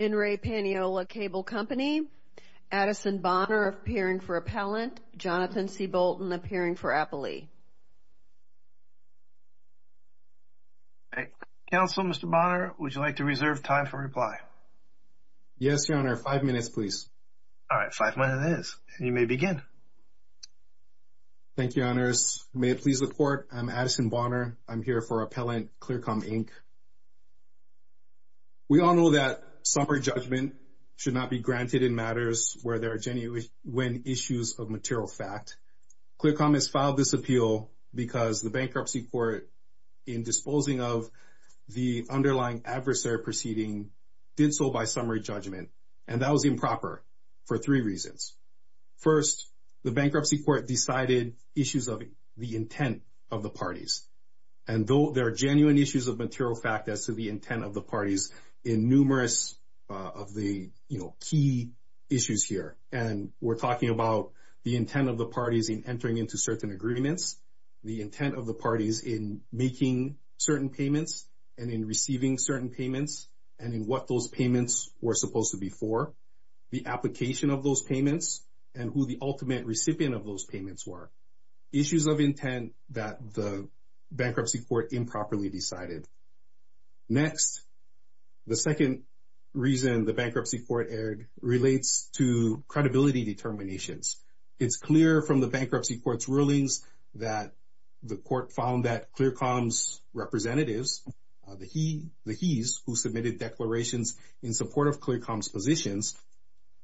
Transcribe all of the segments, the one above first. In re Paniolo Cable Company, Addison Bonner appearing for appellant, Jonathan C. Bolton appearing for appellee. Counselor, Mr. Bonner, would you like to reserve time for reply? Yes, Your Honor. Five minutes, please. All right. Five minutes it is. You may begin. Thank you, Your Honors. May it please the Court, I'm Addison Bonner. I'm here for appellant, ClearCom Inc. We all know that summary judgment should not be granted in matters where there are genuine issues of material fact. ClearCom has filed this appeal because the bankruptcy court, in disposing of the underlying adversary proceeding, did so by summary judgment. And that was improper for three reasons. First, the bankruptcy court decided issues of the intent of the parties. And though there are genuine issues of material fact as to the intent of the parties in numerous of the, you know, key issues here. And we're talking about the intent of the parties in entering into certain agreements. The intent of the parties in making certain payments and in receiving certain payments and in what those payments were supposed to be for. The application of those payments and who the ultimate recipient of those payments were. Issues of intent that the bankruptcy court improperly decided. Next, the second reason the bankruptcy court erred relates to credibility determinations. It's clear from the bankruptcy court's rulings that the court found that ClearCom's representatives, the he's who submitted declarations in support of ClearCom's positions.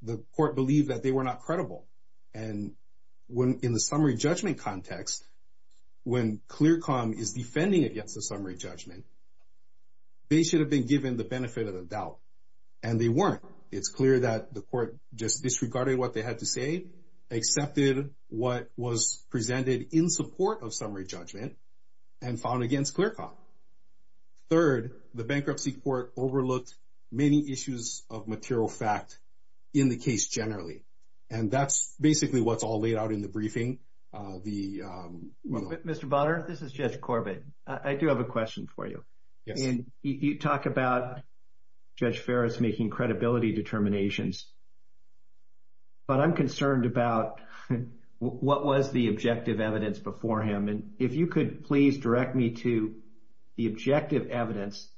The court believed that they were not credible. And when, in the summary judgment context, when ClearCom is defending against the summary judgment, they should have been given the benefit of the doubt. And they weren't. It's clear that the court just disregarded what they had to say, accepted what was presented in support of summary judgment, and found against ClearCom. Third, the bankruptcy court overlooked many issues of material fact in the case generally. And that's basically what's all laid out in the briefing. Mr. Bonner, this is Judge Corbett. I do have a question for you. You talk about Judge Ferris making credibility determinations. But I'm concerned about what was the objective evidence before him. And if you could please direct me to the objective evidence,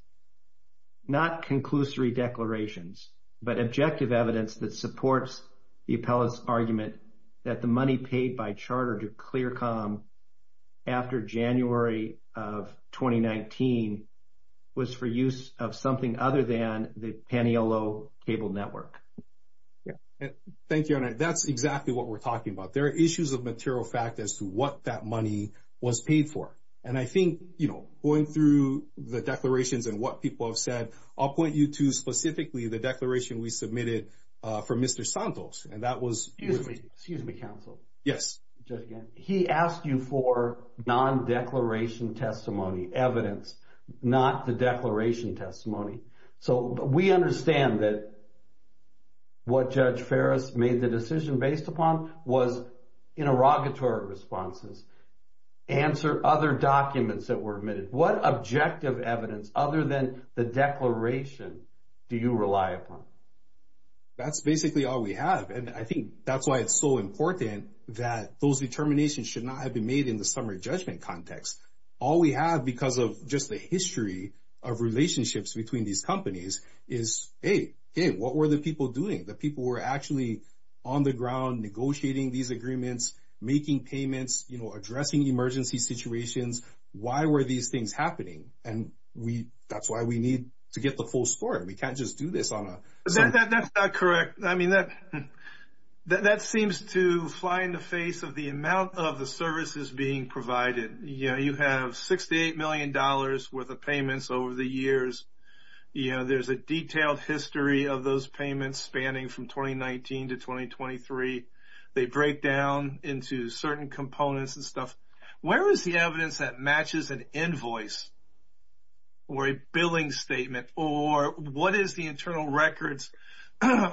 not conclusory declarations, but objective evidence that supports the appellate's argument that the money paid by Charter to ClearCom after January of 2019 was for use of something other than the Paniolo Cable Network. Thank you. That's exactly what we're talking about. There are issues of material fact as to what that money was paid for. And I think, you know, going through the declarations and what people have said, I'll point you to specifically the declaration we submitted for Mr. Santos. And that was... Excuse me. Excuse me, counsel. Yes. He asked you for non-declaration testimony evidence, not the declaration testimony. So we understand that what Judge Ferris made the decision based upon was interrogatory responses. Answer other documents that were admitted. What objective evidence other than the declaration do you rely upon? That's basically all we have. And I think that's why it's so important that those determinations should not have been made in the summary judgment context. All we have because of just the history of relationships between these companies is, hey, what were the people doing? The people were actually on the ground negotiating these agreements, making payments, you know, addressing emergency situations. Why were these things happening? And that's why we need to get the full story. We can't just do this on a... That's not correct. I mean, that seems to fly in the face of the amount of the services being provided. You know, you have $68 million worth of payments over the years. You know, there's a detailed history of those payments spanning from 2019 to 2023. They break down into certain components and stuff. Where is the evidence that matches an invoice or a billing statement or what is the internal records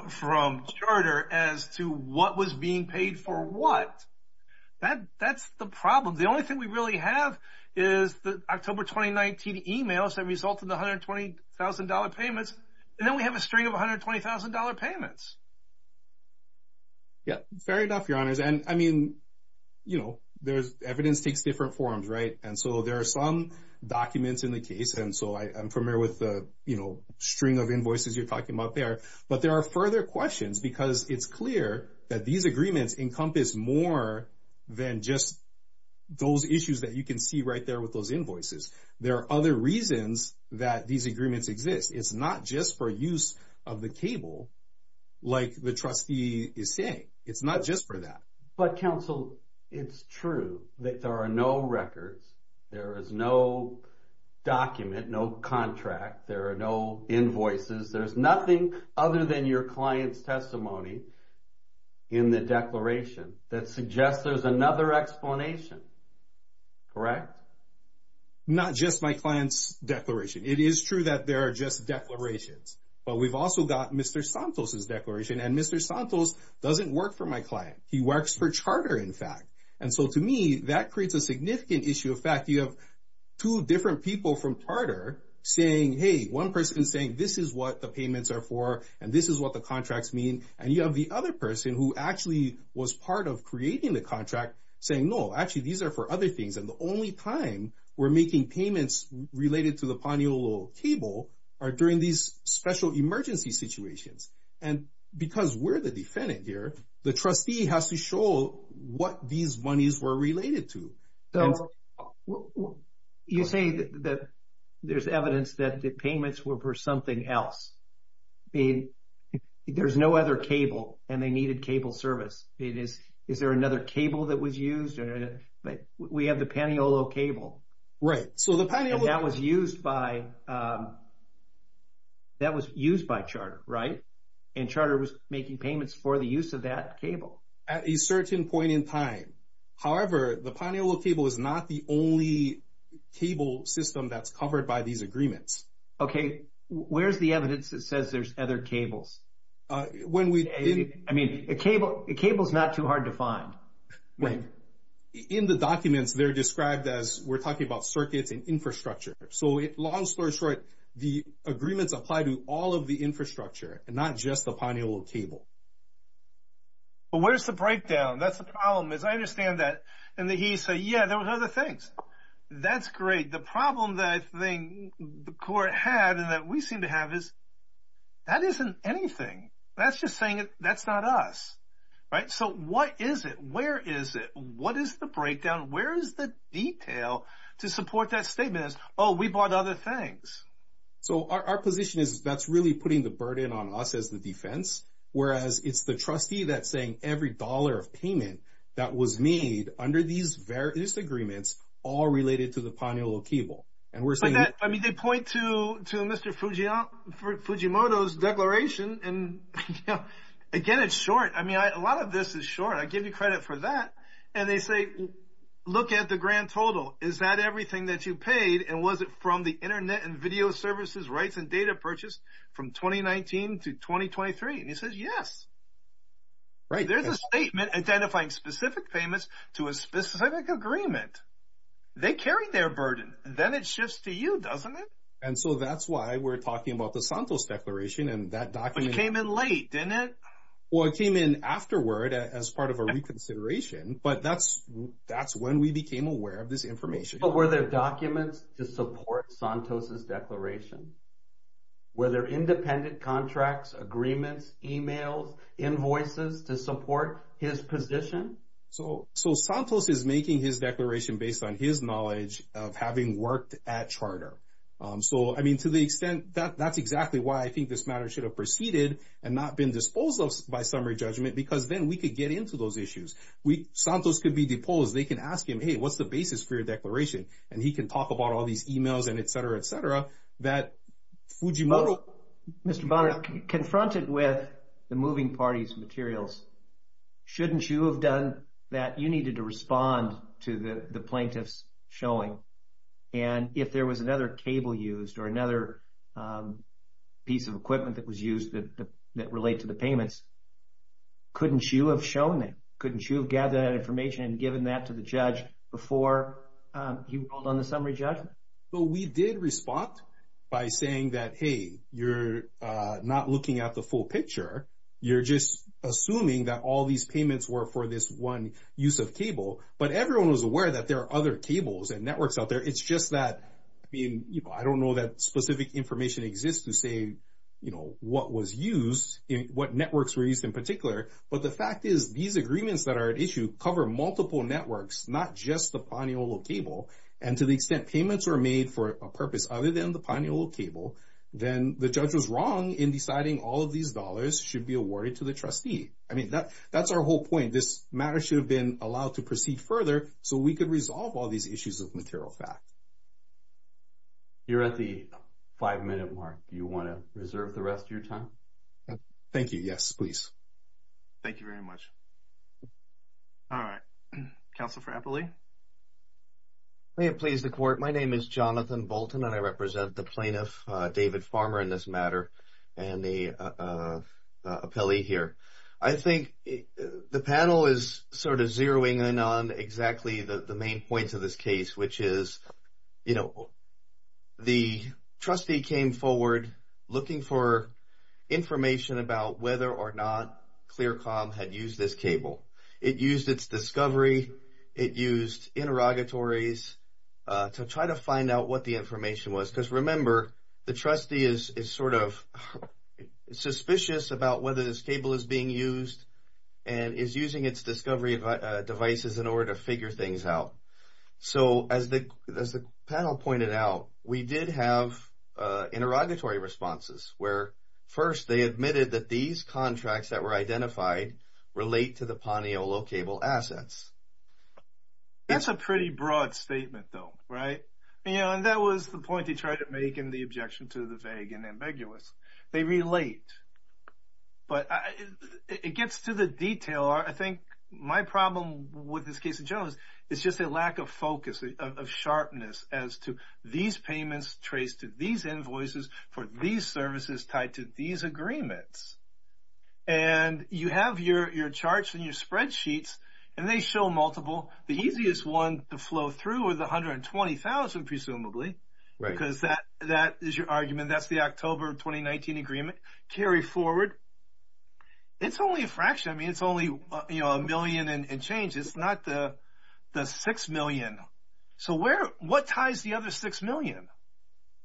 from charter as to what was being paid for what? That's the problem. The only thing we really have is the October 2019 emails that result in the $120,000 payments. And then we have a string of $120,000 payments. Yeah, fair enough, your honors. And I mean, you know, there's evidence takes different forms, right? And so there are some documents in the case. And so I'm familiar with the, you know, string of invoices you're talking about there. But there are further questions because it's clear that these agreements encompass more than just those issues that you can see right there with those invoices. There are other reasons that these agreements exist. It's not just for use of the cable like the trustee is saying. It's not just for that. But counsel, it's true that there are no records. There is no document, no contract. There are no invoices. There's nothing other than your client's testimony in the declaration that suggests there's another explanation. Correct? Not just my client's declaration. It is true that there are just declarations. But we've also got Mr. Santos's declaration. And Mr. Santos doesn't work for my client. He works for charter, in fact. And so to me, that creates a significant issue of fact. You have two different people from charter saying, hey, one person is saying this is what the payments are for and this is what the contracts mean. And you have the other person who actually was part of creating the contract saying, no, actually these are for other things. And the only time we're making payments related to the Paniolo cable are during these special emergency situations. And because we're the defendant here, the trustee has to show what these monies were related to. So you say that there's evidence that the payments were for something else. I mean, there's no other cable and they needed cable service. Is there another cable that was used? We have the Paniolo cable. Right. And that was used by charter, right? And charter was making payments for the use of that cable. At a certain point in time. However, the Paniolo cable is not the only cable system that's covered by these agreements. Okay. Where's the evidence that says there's other cables? I mean, a cable is not too hard to find. In the documents, they're described as we're talking about circuits and infrastructure. So long story short, the agreements apply to all of the infrastructure and not just the Paniolo cable. But where's the breakdown? That's the problem is I understand that. And he said, yeah, there was other things. That's great. The problem that I think the court had and that we seem to have is that isn't anything. That's just saying that's not us. Right. So what is it? Where is it? What is the breakdown? Where is the detail to support that statement? Oh, we bought other things. So our position is that's really putting the burden on us as the defense. Whereas it's the trustee that's saying every dollar of payment that was made under these various agreements all related to the Paniolo cable. I mean, they point to Mr. Fujimoto's declaration. And again, it's short. I mean, a lot of this is short. I give you credit for that. And they say, look at the grand total. Is that everything that you paid? And was it from the Internet and video services rights and data purchased from 2019 to 2023? And he says, yes. There's a statement identifying specific payments to a specific agreement. They carry their burden. Then it shifts to you, doesn't it? And so that's why we're talking about the Santos declaration and that document. But it came in late, didn't it? Well, it came in afterward as part of a reconsideration. But that's when we became aware of this information. But were there documents to support Santos' declaration? Were there independent contracts, agreements, emails, invoices to support his position? So Santos is making his declaration based on his knowledge of having worked at Charter. So, I mean, to the extent that that's exactly why I think this matter should have proceeded and not been disposed of by summary judgment. Because then we could get into those issues. Santos could be deposed. They can ask him, hey, what's the basis for your declaration? And he can talk about all these emails and et cetera, et cetera. That Fujimoto... Mr. Bonner, confronted with the moving parties' materials, shouldn't you have done that? You needed to respond to the plaintiff's showing. And if there was another cable used or another piece of equipment that was used that relate to the payments, couldn't you have shown that? Couldn't you have gathered that information and given that to the judge before you called on the summary judgment? Well, we did respond by saying that, hey, you're not looking at the full picture. You're just assuming that all these payments were for this one use of cable. But everyone was aware that there are other cables and networks out there. It's just that, I mean, I don't know that specific information exists to say, you know, what was used, what networks were used in particular. But the fact is, these agreements that are at issue cover multiple networks, not just the Paniolo cable. And to the extent payments were made for a purpose other than the Paniolo cable, then the judge was wrong in deciding all of these dollars should be awarded to the trustee. I mean, that's our whole point. This matter should have been allowed to proceed further so we could resolve all these issues of material fact. You're at the five-minute mark. Do you want to reserve the rest of your time? Thank you. Yes, please. Thank you very much. All right. Counsel for Appley? May it please the court. My name is Jonathan Bolton, and I represent the plaintiff, David Farmer, in this matter, and the appellee here. I think the panel is sort of zeroing in on exactly the main points of this case, which is, you know, the trustee came forward looking for information about whether or not ClearCom had used this cable. It used its discovery. It used interrogatories to try to find out what the information was. Because remember, the trustee is sort of suspicious about whether this cable is being used and is using its discovery devices in order to figure things out. So, as the panel pointed out, we did have interrogatory responses where, first, they admitted that these contracts that were identified relate to the Paniolo cable assets. That's a pretty broad statement, though, right? You know, and that was the point he tried to make in the objection to the vague and ambiguous. They relate. But it gets to the detail. I think my problem with this case in general is it's just a lack of focus, of sharpness, as to these payments trace to these invoices for these services tied to these agreements. And you have your charts and your spreadsheets, and they show multiple. The easiest one to flow through are the 120,000, presumably, because that is your argument. That's the October 2019 agreement. Carry forward. It's only a fraction. It's not a million and change. It's not the six million. So, what ties the other six million?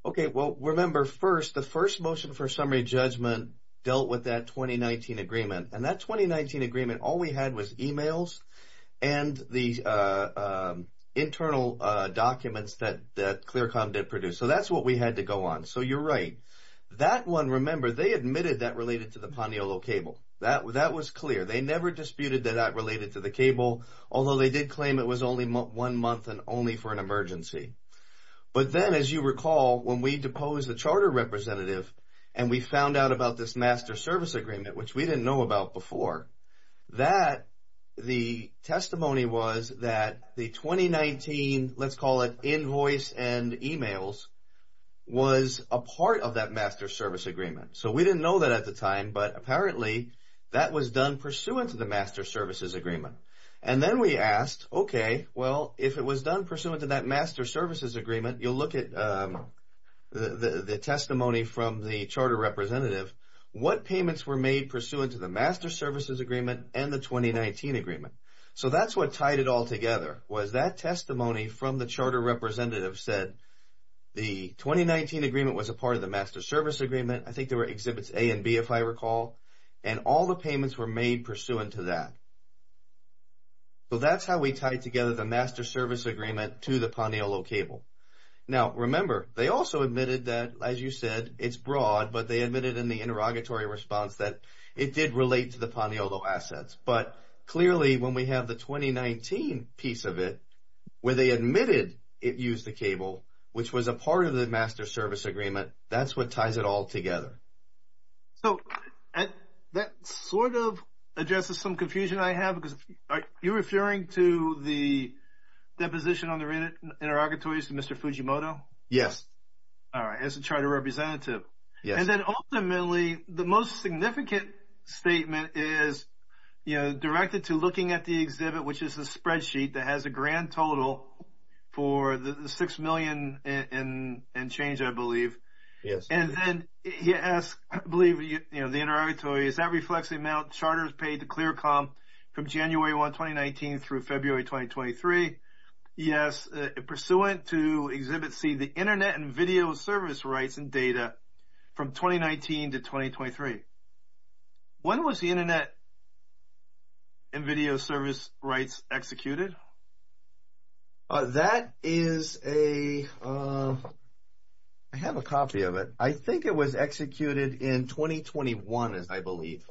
Okay. Well, remember, first, the first motion for summary judgment dealt with that 2019 agreement. And that 2019 agreement, all we had was emails and the internal documents that ClearCom did produce. So, that's what we had to go on. So, you're right. That one, remember, they admitted that related to the Paniolo cable. That was clear. They never disputed that that related to the cable, although they did claim it was only one month and only for an emergency. But then, as you recall, when we deposed the charter representative and we found out about this master service agreement, which we didn't know about before, that the testimony was that the 2019, let's call it, invoice and emails, was a part of that master service agreement. So, we didn't know that at the time, but apparently, that was done pursuant to the master services agreement. And then we asked, okay, well, if it was done pursuant to that master services agreement, you'll look at the testimony from the charter representative. What payments were made pursuant to the master services agreement and the 2019 agreement? So, that's what tied it all together, was that testimony from the charter representative said, the 2019 agreement was a part of the master service agreement. That's where it exhibits A and B, if I recall, and all the payments were made pursuant to that. So, that's how we tied together the master service agreement to the Paniolo cable. Now, remember, they also admitted that, as you said, it's broad, but they admitted in the interrogatory response that it did relate to the Paniolo assets. But clearly, when we have the 2019 piece of it, where they admitted it used the cable, which was a part of the master service agreement, that's what ties it all together. So, that sort of addresses some confusion I have. Are you referring to the deposition on the interrogatories to Mr. Fujimoto? Yes. All right, as a charter representative. And then ultimately, the most significant statement is directed to looking at the exhibit, which is the spreadsheet that has a grand total for the $6 million and change, I believe. Yes. I believe, you know, the interrogatory is that reflects the amount charters paid to ClearCom from January 1, 2019 through February 2023. Yes, pursuant to exhibit C, the internet and video service rights and data from 2019 to 2023. When was the internet and video service rights executed? That is a, I have a copy of it. I think it was executed in 2021, I believe.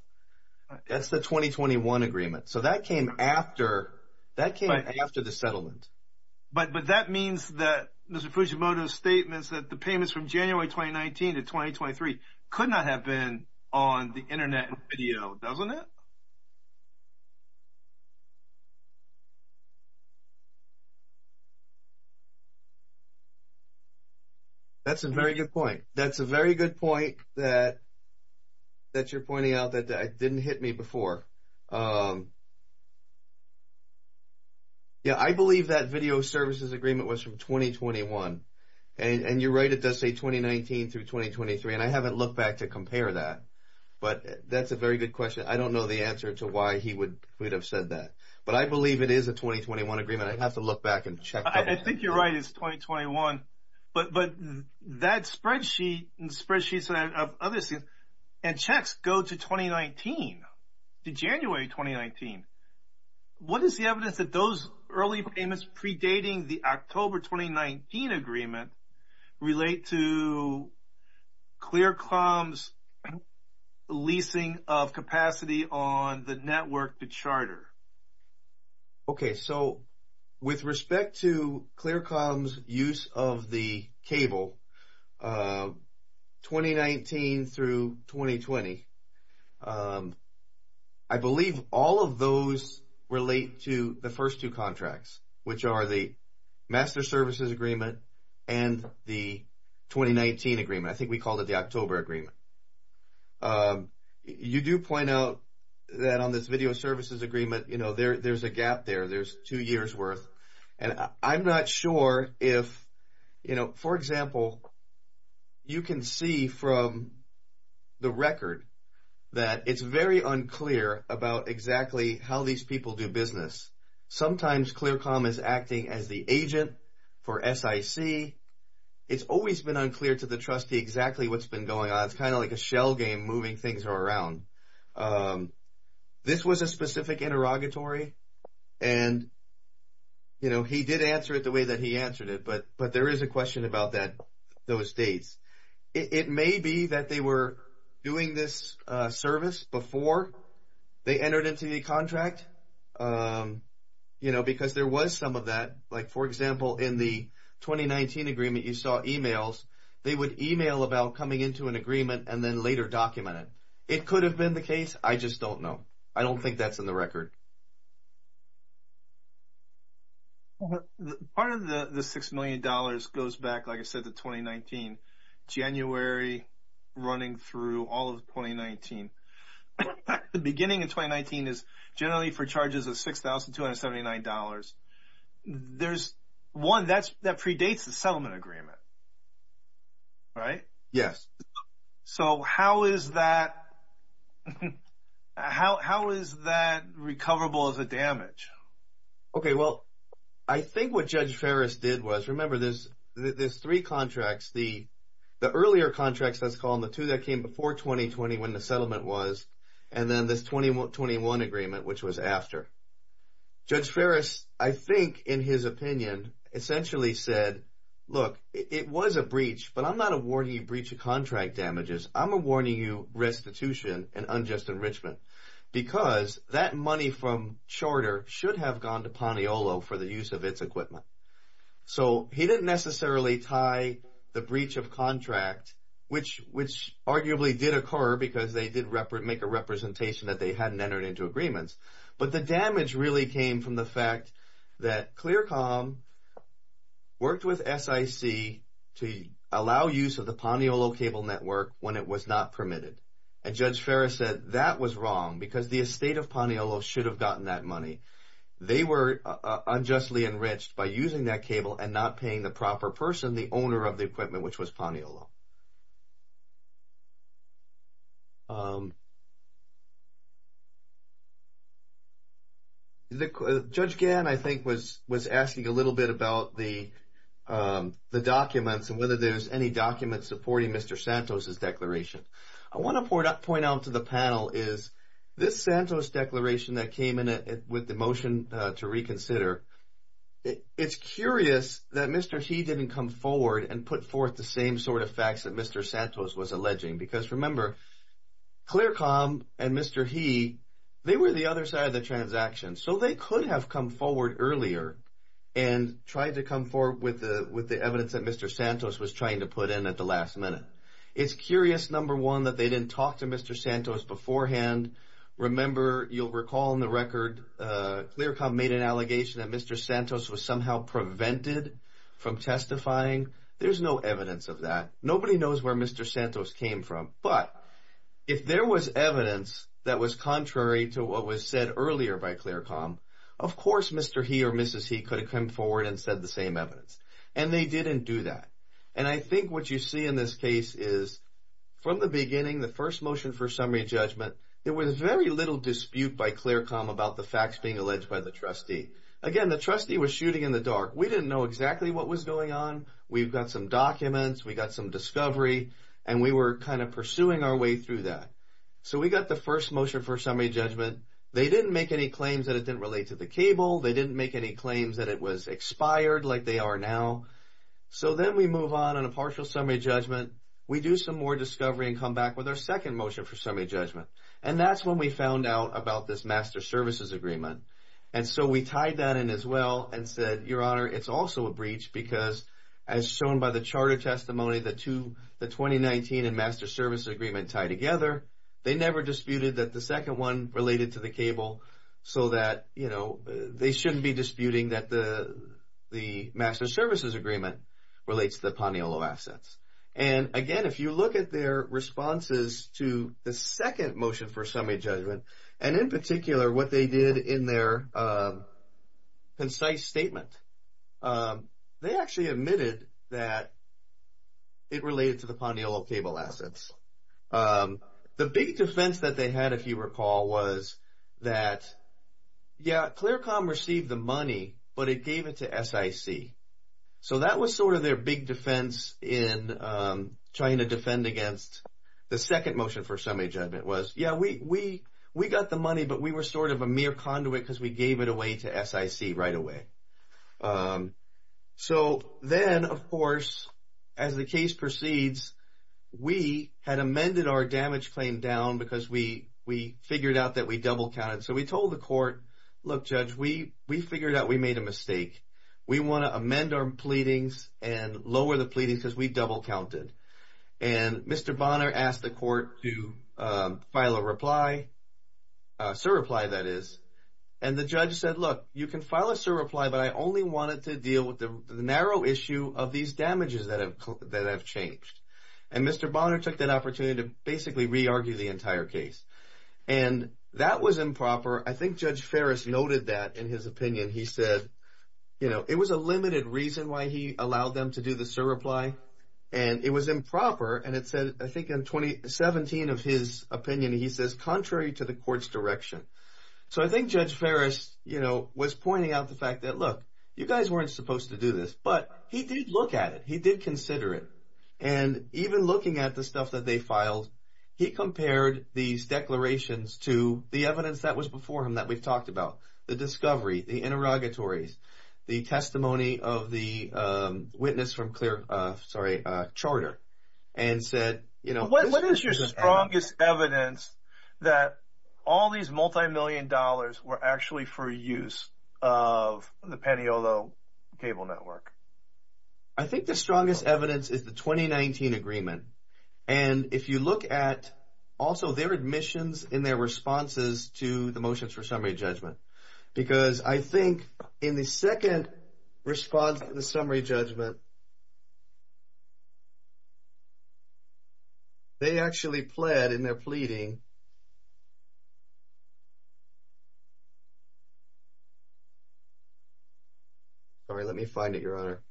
That's the 2021 agreement. So, that came after the settlement. But that means that Mr. Fujimoto's statements that the payments from January 2019 to 2023 could not have been on the internet and video, doesn't it? That's a very good point. That's a very good point that you're pointing out that didn't hit me before. Yeah, I believe that video services agreement was from 2021. And you're right, it does say 2019 through 2023. And I haven't looked back to compare that. But that's a very good question. I don't know the answer to why he would have said that. But I believe it is a 2021 agreement. I'd have to look back and check. I think you're right. I think it's 2021. But that spreadsheet and spreadsheets of other things and checks go to 2019, to January 2019. What is the evidence that those early payments predating the October 2019 agreement relate to ClearComm's leasing of capacity on the network to charter? Okay, so with respect to ClearComm's use of the cable, 2019 through 2020, I believe all of those relate to the first two contracts, which are the master services agreement and the 2019 agreement. I think we called it the October agreement. You do point out that on this video services agreement, there's a gap there. There's two years worth. And I'm not sure if, for example, you can see from the record that it's very unclear about exactly how these people do business. Sometimes ClearComm is acting as the agent for SIC. It's always been unclear to the trustee exactly what's been going on. It's kind of like a shell game moving things around. This was a specific interrogatory, and he did answer it the way that he answered it. But there is a question about those dates. It may be that they were doing this service before they entered into the contract, because there was some of that. For example, in the 2019 agreement, you saw emails. They would email about coming into an agreement and then later document it. It could have been the case. I just don't know. I don't think that's in the record. Part of the $6 million goes back, like I said, to 2019, January running through all of 2019. The beginning of 2019 is generally for charges of $6,279. One, that predates the settlement agreement. Right? Yes. So how is that recoverable as a damage? Okay, well, I think what Judge Ferris did was, remember, there's three contracts. The earlier contracts, let's call them the two that came before 2020 when the settlement was, and then this 2021 agreement, which was after. Judge Ferris, I think, in his opinion, essentially said, look, it was a breach, but I'm not awarding you breach of contract damages. I'm awarding you restitution and unjust enrichment, because that money from charter should have gone to Paniolo for the use of its equipment. So he didn't necessarily tie the breach of contract, which arguably did occur because they did make a representation that they hadn't entered into agreements. But the damage really came from the fact that ClearCom worked with SIC to allow use of the Paniolo cable network when it was not permitted. And Judge Ferris said that was wrong, because the estate of Paniolo should have gotten that money. They were unjustly enriched by using that cable and not paying the proper person, the owner of the equipment, which was Paniolo. Judge Gann, I think, was asking a little bit about the documents and whether there's any documents supporting Mr. Santos' declaration. I want to point out to the panel is this Santos declaration that came in with the motion to reconsider, it's curious that Mr. He didn't come forward and put forth the same sort of facts that Mr. Santos was alleging, because remember, ClearCom and Mr. He, they were the other side of the transaction. So they could have come forward earlier and tried to come forward with the evidence that Mr. Santos was trying to put in at the last minute. It's curious, number one, that they didn't talk to Mr. Santos beforehand. Remember, you'll recall in the record, ClearCom made an allegation that Mr. Santos was somehow prevented from testifying. There's no evidence of that. Nobody knows where Mr. Santos came from. But if there was evidence that was contrary to what was said earlier by ClearCom, of course Mr. He or Mrs. He could have come forward and said the same evidence. And they didn't do that. And I think what you see in this case is, from the beginning, the first motion for summary judgment, there was very little dispute by ClearCom about the facts being alleged by the trustee. Again, the trustee was shooting in the dark. We didn't know exactly what was going on. We've got some documents, we've got some discovery, and we were kind of pursuing our way through that. So we got the first motion for summary judgment. They didn't make any claims that it didn't relate to the cable. They didn't make any claims that it was expired like they are now. So then we move on on a partial summary judgment. We do some more discovery and come back with our second motion for summary judgment. And that's when we found out about this master services agreement. And so we tied that in as well and said, Your Honor, it's also a breach because, as shown by the charter testimony, the 2019 and master services agreement tie together. They never disputed that the second one related to the cable so that they shouldn't be disputing that the master services agreement relates to the Paniolo assets. And again, if you look at their responses to the second motion for summary judgment, and in particular what they did in their concise statement, they actually admitted that it related to the Paniolo cable assets. The big defense that they had, if you recall, was that, yeah, ClearCom received the money, but it gave it to SIC. So that was sort of their big defense in trying to defend against the second motion for summary judgment was, yeah, we got the money, but we were sort of a mere conduit because we gave it away to SIC right away. So then, of course, as the case proceeds, we had amended our damage claim down because we figured out that we double counted. So we told the court, look, Judge, we figured out we made a mistake. We want to amend our pleadings and lower the pleadings because we double counted. And Mr. Bonner asked the court to file a reply, a surreply, that is. And the judge said, look, you can file a surreply, but I only wanted to deal with the narrow issue of these damages that have changed. And Mr. Bonner took that opportunity to basically re-argue the entire case. And that was improper. I think Judge Ferris noted that in his opinion. He said, you know, it was a limited reason why he allowed them to do the surreply. And it was improper, and it said, I think in 2017 of his opinion, he says, contrary to the court's direction. So I think Judge Ferris, you know, was pointing out the fact that, look, you guys weren't supposed to do this. But he did look at it. He did consider it. And even looking at the stuff that they filed, he compared these declarations to the evidence that was before him that we've talked about. The discovery, the interrogatories, the testimony of the witness from Charter, and said, you know. What is your strongest evidence that all these multimillion dollars were actually for use of the Paniolo cable network? I think the strongest evidence is the 2019 agreement. And if you look at also their admissions and their responses to the motions for summary judgment. Because I think in the second response to the summary judgment, they actually pled in their pleading and they pled in their pleading. Sorry, let me find it, Your Honor.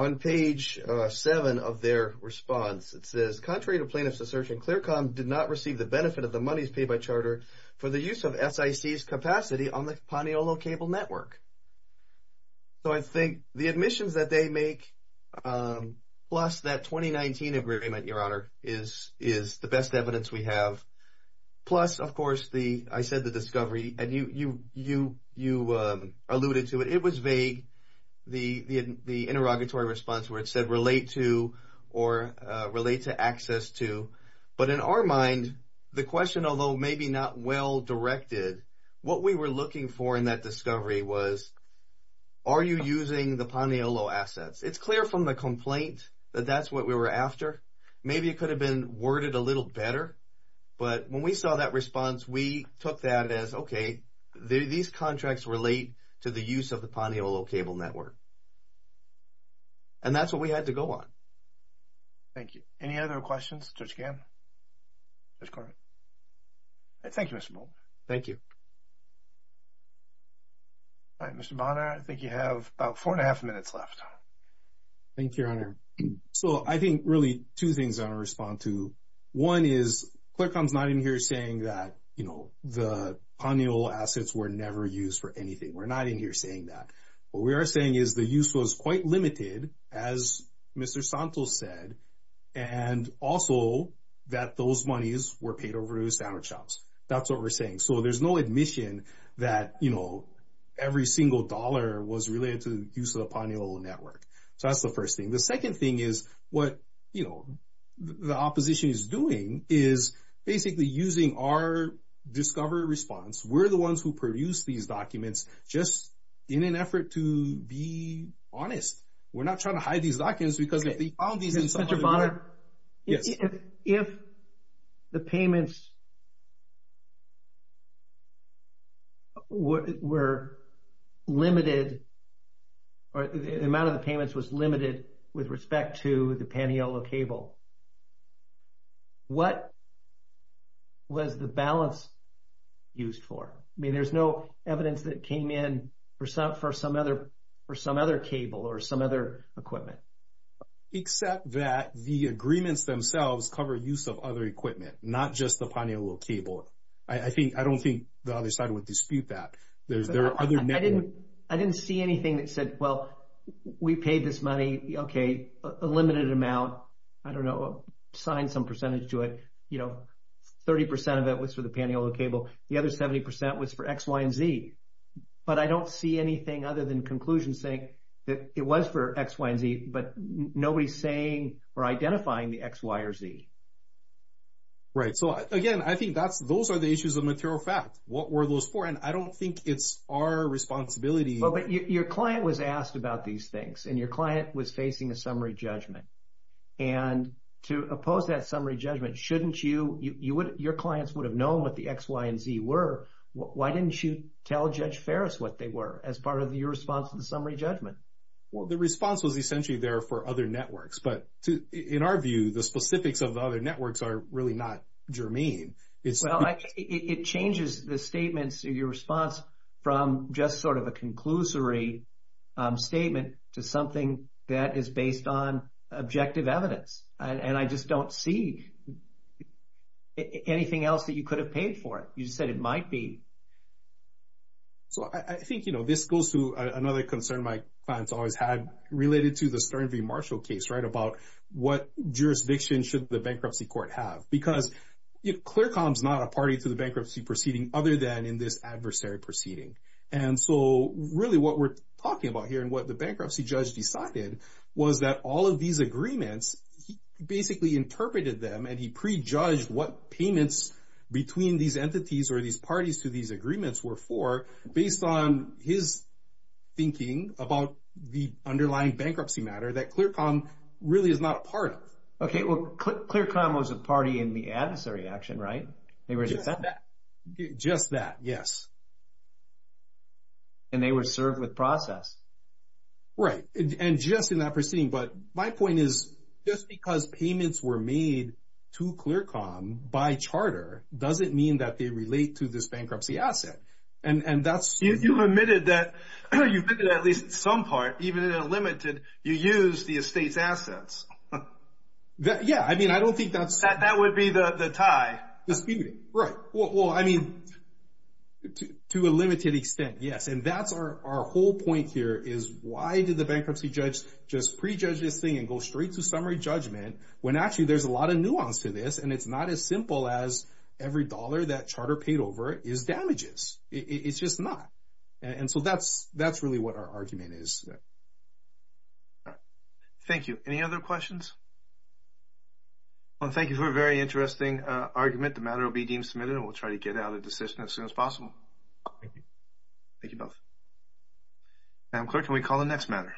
On page seven of their response, it says, contrary to plaintiffs' assertion, ClearCom did not receive the benefit of the monies paid by Charter for the use of SIC's capacity on the Paniolo cable network. So I think the admissions that they make, plus that 2019 agreement, Your Honor, is the best evidence we have. Plus, of course, I said the discovery, and you alluded to it. It was vague. The interrogatory response where it said relate to or relate to access to. But in our mind, the question, although maybe not well directed, what we were looking for in that discovery was are you using the Paniolo assets? It's clear from the complaint that that's what we were after. Maybe it could have been worded a little better. But when we saw that response, we took that as, okay, these contracts relate to the use of the Paniolo cable network. And that's what we had to go on. Thank you. Any other questions, Judge Gabb? Judge Corwin? Thank you, Mr. Mohler. Thank you. All right, Mr. Bonner, I think you have about four and a half minutes left. Thank you, Your Honor. So I think really two things I want to respond to. One is Clercon's not in here saying that the Paniolo assets were never used for anything. We're not in here saying that. What we are saying is the use was quite limited, as Mr. Santos said, and also that those monies were paid over to sandwich shops. That's the first thing. So there's no admission that, you know, every single dollar was related to the use of the Paniolo network. So that's the first thing. The second thing is what, you know, the opposition is doing is basically using our discovery response. We're the ones who produced these documents just in an effort to be honest. We're not trying to hide these documents because they found these in some other... Mr. Bonner, if the payments were limited or the amount of the payments was limited with respect to the Paniolo cable, what was the balance used for? I mean, there's no evidence that came in for some other cable or some other equipment. Except that the agreements themselves cover use of other equipment, not just the Paniolo cable. I don't think the other side would dispute that. There are other networks. I didn't see anything that said, well, we paid this money, okay, a limited amount. I don't know, assigned some percentage to it. You know, 30% of it was for the Paniolo cable. The other 70% was for X, Y, and Z. But I don't see anything other than conclusions saying that it was for X, Y, and Z, but nobody's saying or identifying the X, Y, or Z. Right, so again, I think those are the issues of material fact. What were those for? And I don't think it's our responsibility. But your client was asked about these things, and your client was facing a summary judgment. And to oppose that summary judgment, shouldn't you... Your clients would have known what the X, Y, and Z were. Why didn't you tell Judge Farris what they were as part of your response to the summary judgment? Well, the response was essentially there for other networks. But in our view, the specifics of the other networks are really not germane. Well, it changes the statements in your response from just sort of a conclusory statement to something that is based on objective evidence. And I just don't see anything else that you could have paid for it. You just said it might be. So I think, you know, this goes to another concern my clients always had related to the Stern v. Marshall case, right? About what jurisdiction should the bankruptcy court have? Because ClearComm's not a party to the bankruptcy proceeding other than in this adversary proceeding. And so really what we're talking about here and what the bankruptcy judge decided was that all of these agreements, he basically interpreted them and he prejudged what payments between these entities or these parties to these agreements as thinking about the underlying bankruptcy matter that ClearComm really is not a part of. Okay, well, ClearComm was a party in the adversary action, right? Just that. Just that, yes. And they were served with process. Right. And just in that proceeding. But my point is, just because payments were made to ClearComm by charter doesn't mean that they relate to this bankruptcy asset. You've been to at least some part, even in a limited, you use the estate's assets. Yeah, I mean, I don't think that's... That would be the tie. Right. Well, I mean, to a limited extent, yes. And that's our whole point here is why did the bankruptcy judge just prejudge this thing and go straight to summary judgment when actually there's a lot of nuance to this and it's not as simple as every dollar that charter paid over is damages. It's just not. And so that's really what our argument is. All right. Thank you. Any other questions? Well, thank you for a very interesting argument. The matter will be deemed submitted and we'll try to get it out of the system as soon as possible. Thank you both. Madam Clerk, can we call the next matter?